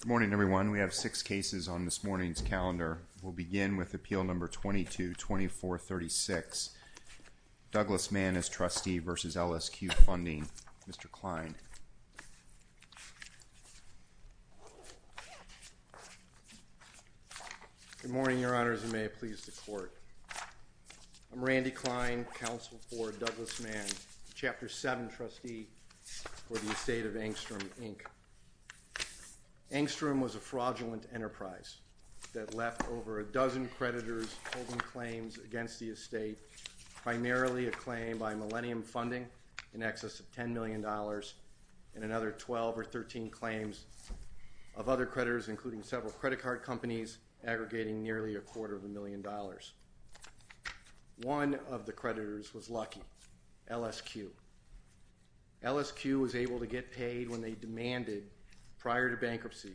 Good morning, everyone. We have six cases on this morning's calendar. We'll begin with Appeal No. 22-2436, Douglas Mann v. LSQ Funding, Mr. Klein. Good morning, Your Honors, and may it please the Court. I'm Randy Klein, Counsel for Douglas Mann, Chapter 7 Trustee for the Estate of Angstrom, Inc. Angstrom was a fraudulent enterprise that left over a dozen creditors holding claims against the estate, primarily a claim by Millennium Funding in excess of $10 million and another 12 or 13 claims of other creditors, including several credit card companies aggregating nearly a quarter of a million dollars. One of the creditors was lucky, LSQ. LSQ was able to get paid when they demanded, prior to bankruptcy,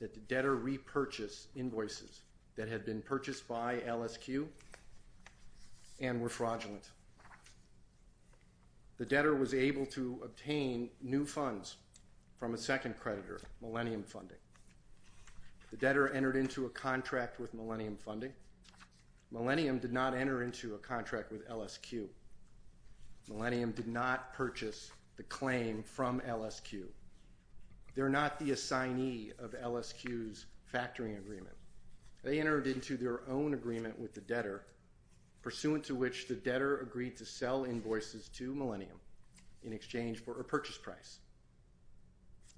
that the debtor repurchase invoices that had been purchased by LSQ and were fraudulent. The debtor was able to obtain new funds from a second creditor, Millennium Funding. The debtor entered into a contract with Millennium Funding. Millennium did not enter into a contract with LSQ. Millennium did not purchase the claim from LSQ. They're not the assignee of LSQ's factoring agreement. They entered into their own agreement with the debtor, pursuant to which the debtor agreed to sell invoices to Millennium in exchange for a purchase price.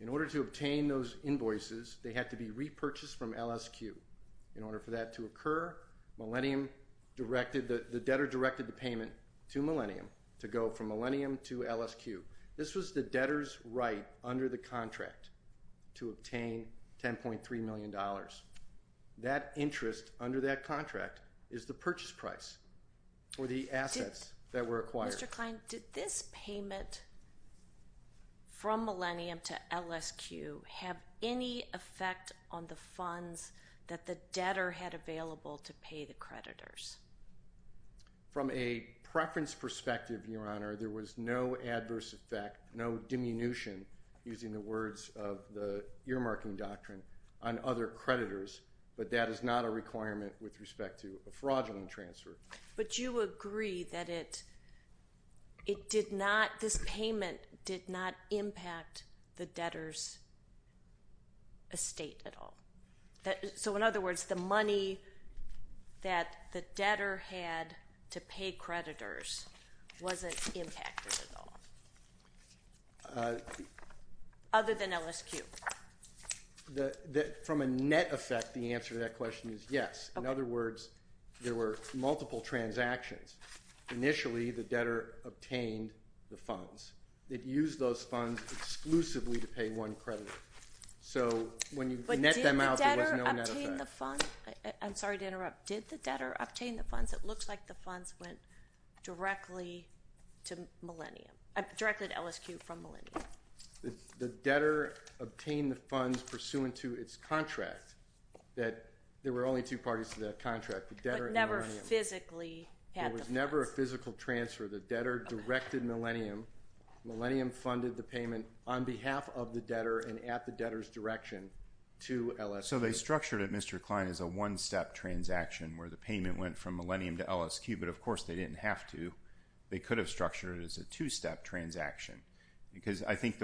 In order to obtain those invoices, they had to be repurchased from LSQ. In order for that to occur, the debtor directed the payment to Millennium to go from Millennium to LSQ. This was the debtor's right under the contract to obtain $10.3 million. That interest under that contract is the purchase price, or the assets that were acquired. Mr. Kline, did this payment from Millennium to LSQ have any effect on the funds that the debtor had available to pay the creditors? From a preference perspective, Your Honor, there was no adverse effect, no diminution, using the words of the earmarking doctrine, on other creditors, but that is not a requirement with respect to a fraudulent transfer. But you agree that this payment did not impact the debtor's estate at all? So in other words, the money that the debtor had to pay creditors wasn't impacted at all? Other than LSQ? From a net effect, the answer to that question is yes. In other words, there were multiple transactions. Initially, the debtor obtained the funds. It used those funds exclusively to pay one creditor. So when you net them out, there was no net effect. I'm sorry to interrupt. Did the debtor obtain the funds? It looks like the funds went directly to LSQ from Millennium. The debtor obtained the funds pursuant to its contract. There were only two parties to that contract, the debtor and Millennium. But never physically had the funds? There was never a physical transfer. The debtor directed Millennium. Millennium funded the payment on behalf of the debtor and at the debtor's direction to LSQ. So they structured it, Mr. Kline, as a one-step transaction, where the payment went from Millennium to LSQ, but of course they didn't have to. They could have structured it as a two-step transaction, because I think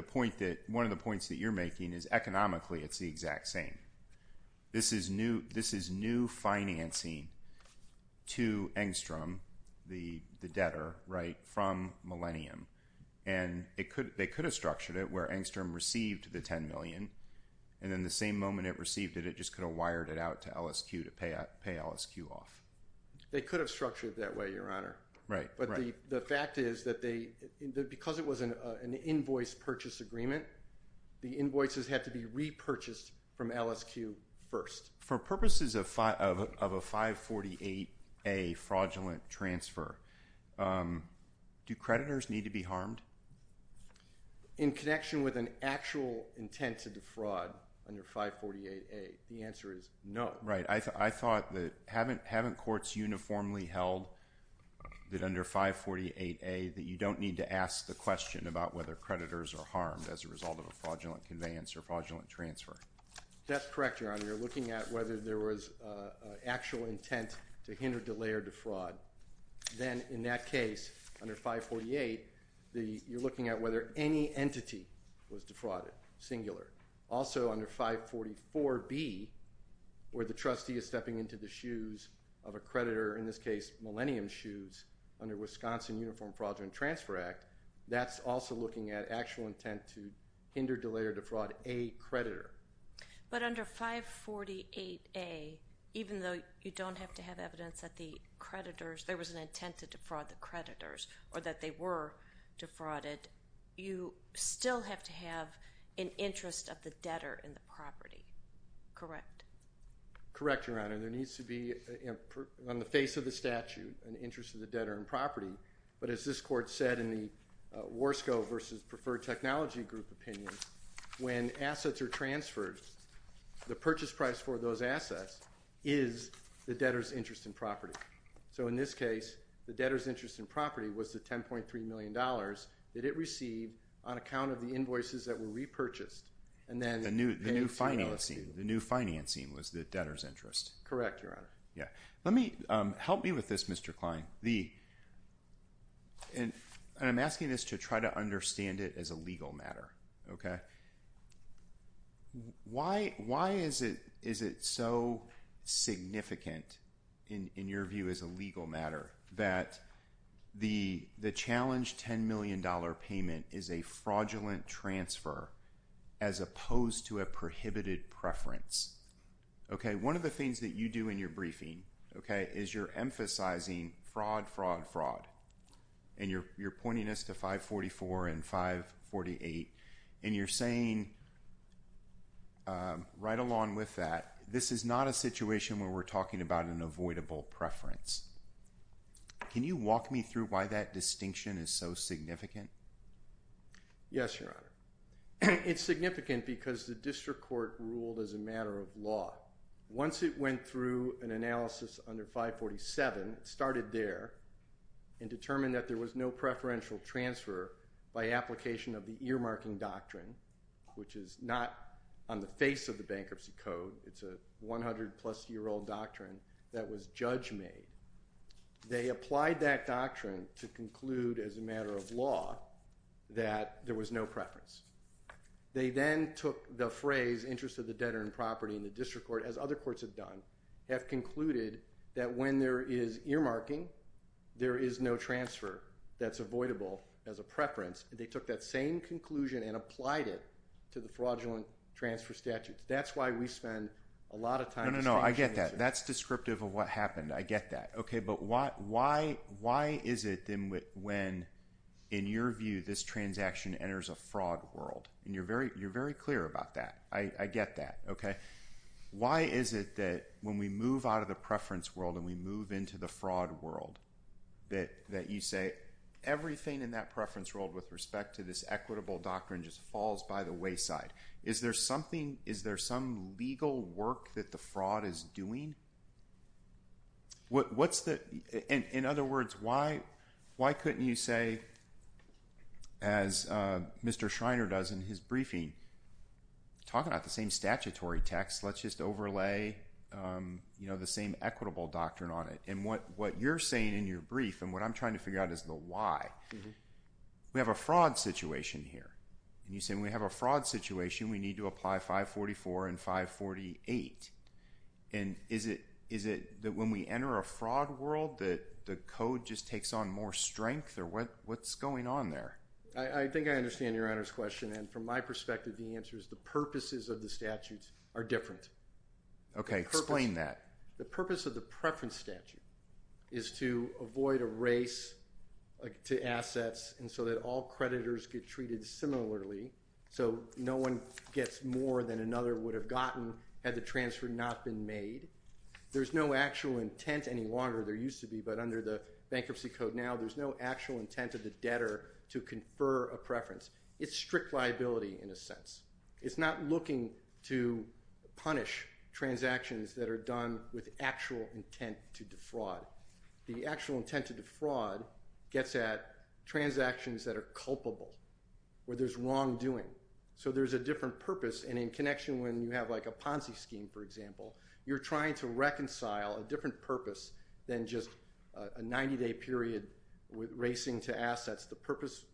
one of the points that you're making is economically it's the exact same. This is new financing to Engstrom, the debtor, from Millennium. They could have structured it where Engstrom received the $10 million, and then the same moment it received it, it just could have wired it out to LSQ to pay LSQ off. They could have structured it that way, Your Honor. The fact is, because it was an invoice purchase agreement, the invoices had to be repurchased from LSQ first. For purposes of a 548A fraudulent transfer, do creditors need to be harmed? In connection with an actual intent to defraud under 548A, the answer is no. I thought that, haven't courts uniformly held that under 548A, that you don't need to ask the question about whether creditors are harmed as a result of a fraudulent conveyance or fraudulent transfer? That's correct, Your Honor. You're looking at whether there was an actual intent to hinder, delay, or defraud. Then in that case, under 548, you're looking at whether any entity was defrauded, singular. Also, under 544B, where the trustee is stepping into the shoes of a creditor, in this case, Millennium Shoes, under Wisconsin Uniform Fraudulent Transfer Act, that's also looking at actual intent to hinder, delay, or defraud a creditor. But under 548A, even though you don't have to have evidence that the creditors, there was an intent to defraud the creditors, or that they were defrauded, you still have to have an interest of the debtor in the property. Correct? Correct, Your Honor. There needs to be, on the face of the statute, an interest of the debtor in property. But as this court said in the Warsco versus Preferred Technology Group opinion, when assets are transferred, the purchase price for those assets is the debtor's interest in property. So in this case, the debtor's interest in property was the $10.3 million that it received on account of the invoices that were repurchased. And then the new financing, the new financing was the debtor's interest. Correct, Your Honor. Yeah. Let me, help me with this, Mr. Kline, and I'm asking this to try to understand it as a legal matter, okay? Why is it so significant, in your view, as a legal matter, that the challenged $10 million payment is a fraudulent transfer, as opposed to a prohibited preference, okay? One of the things that you do in your briefing, okay, is you're emphasizing fraud, fraud, fraud. And you're pointing us to 544 and 548, and you're saying, right along with that, this is not a situation where we're talking about an avoidable preference. Can you walk me through why that distinction is so significant? Yes, Your Honor. It's significant because the district court ruled as a matter of law. Once it went through an analysis under 547, it started there, and determined that there was no preferential transfer by application of the earmarking doctrine, which is not on the face of the Bankruptcy Code, it's a 100-plus-year-old doctrine that was judge-made. They applied that doctrine to conclude, as a matter of law, that there was no preference. They then took the phrase, interest of the debtor in property, and the district court, as other courts have done, have concluded that when there is earmarking, there is no transfer that's avoidable as a preference, and they took that same conclusion and applied it to the fraudulent transfer statute. That's why we spend a lot of time distinguishing the two. No, no, no. I get that. That's descriptive of what happened. I get that. Okay, but why is it then when, in your view, this transaction enters a fraud world? You're very clear about that. I get that, okay? Why is it that when we move out of the preference world and we move into the fraud world, that you say, everything in that preference world with respect to this equitable doctrine just falls by the wayside? Is there something, is there some legal work that the fraud is doing? In other words, why couldn't you say, as Mr. Schreiner does in his briefing, talking about the same statutory text, let's just overlay the same equitable doctrine on it, and what you're saying in your brief and what I'm trying to figure out is the why. We have a fraud situation here, and you're saying we have a fraud situation, we need to apply 544 and 548, and is it that when we enter a fraud world that the code just takes on more strength, or what's going on there? I think I understand your Honor's question, and from my perspective, the answer is the purposes of the statutes are different. Okay, explain that. The purpose of the preference statute is to avoid a race to assets, and so that all creditors get treated similarly, so no one gets more than another would have gotten had the transfer not been made. There's no actual intent any longer, there used to be, but under the bankruptcy code now, there's no actual intent of the debtor to confer a preference. It's strict liability in a sense. It's not looking to punish transactions that are done with actual intent to defraud. The actual intent to defraud gets at transactions that are culpable, where there's wrongdoing, so there's a different purpose, and in connection when you have like a Ponzi scheme, for example, you're trying to reconcile a different purpose than just a 90-day period with racing to assets. The purpose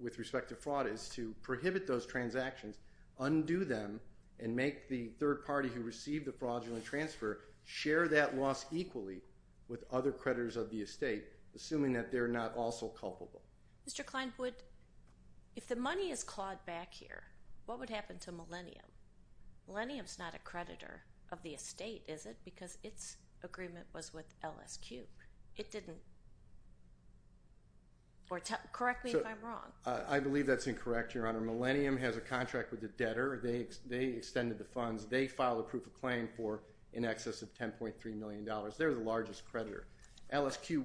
with respect to fraud is to prohibit those transactions, undo them, and make the third party who received the fraudulent transfer share that loss equally with other creditors of the estate, assuming that they're not also culpable. Mr. Klein, if the money is clawed back here, what would happen to Millennium? Millennium's not a creditor of the estate, is it? Because its agreement was with LSQ. It didn't. Or correct me if I'm wrong. I believe that's incorrect, Your Honor. Millennium has a contract with the debtor. They extended the funds. They filed a proof of claim for in excess of $10.3 million. They're the largest creditor. LSQ.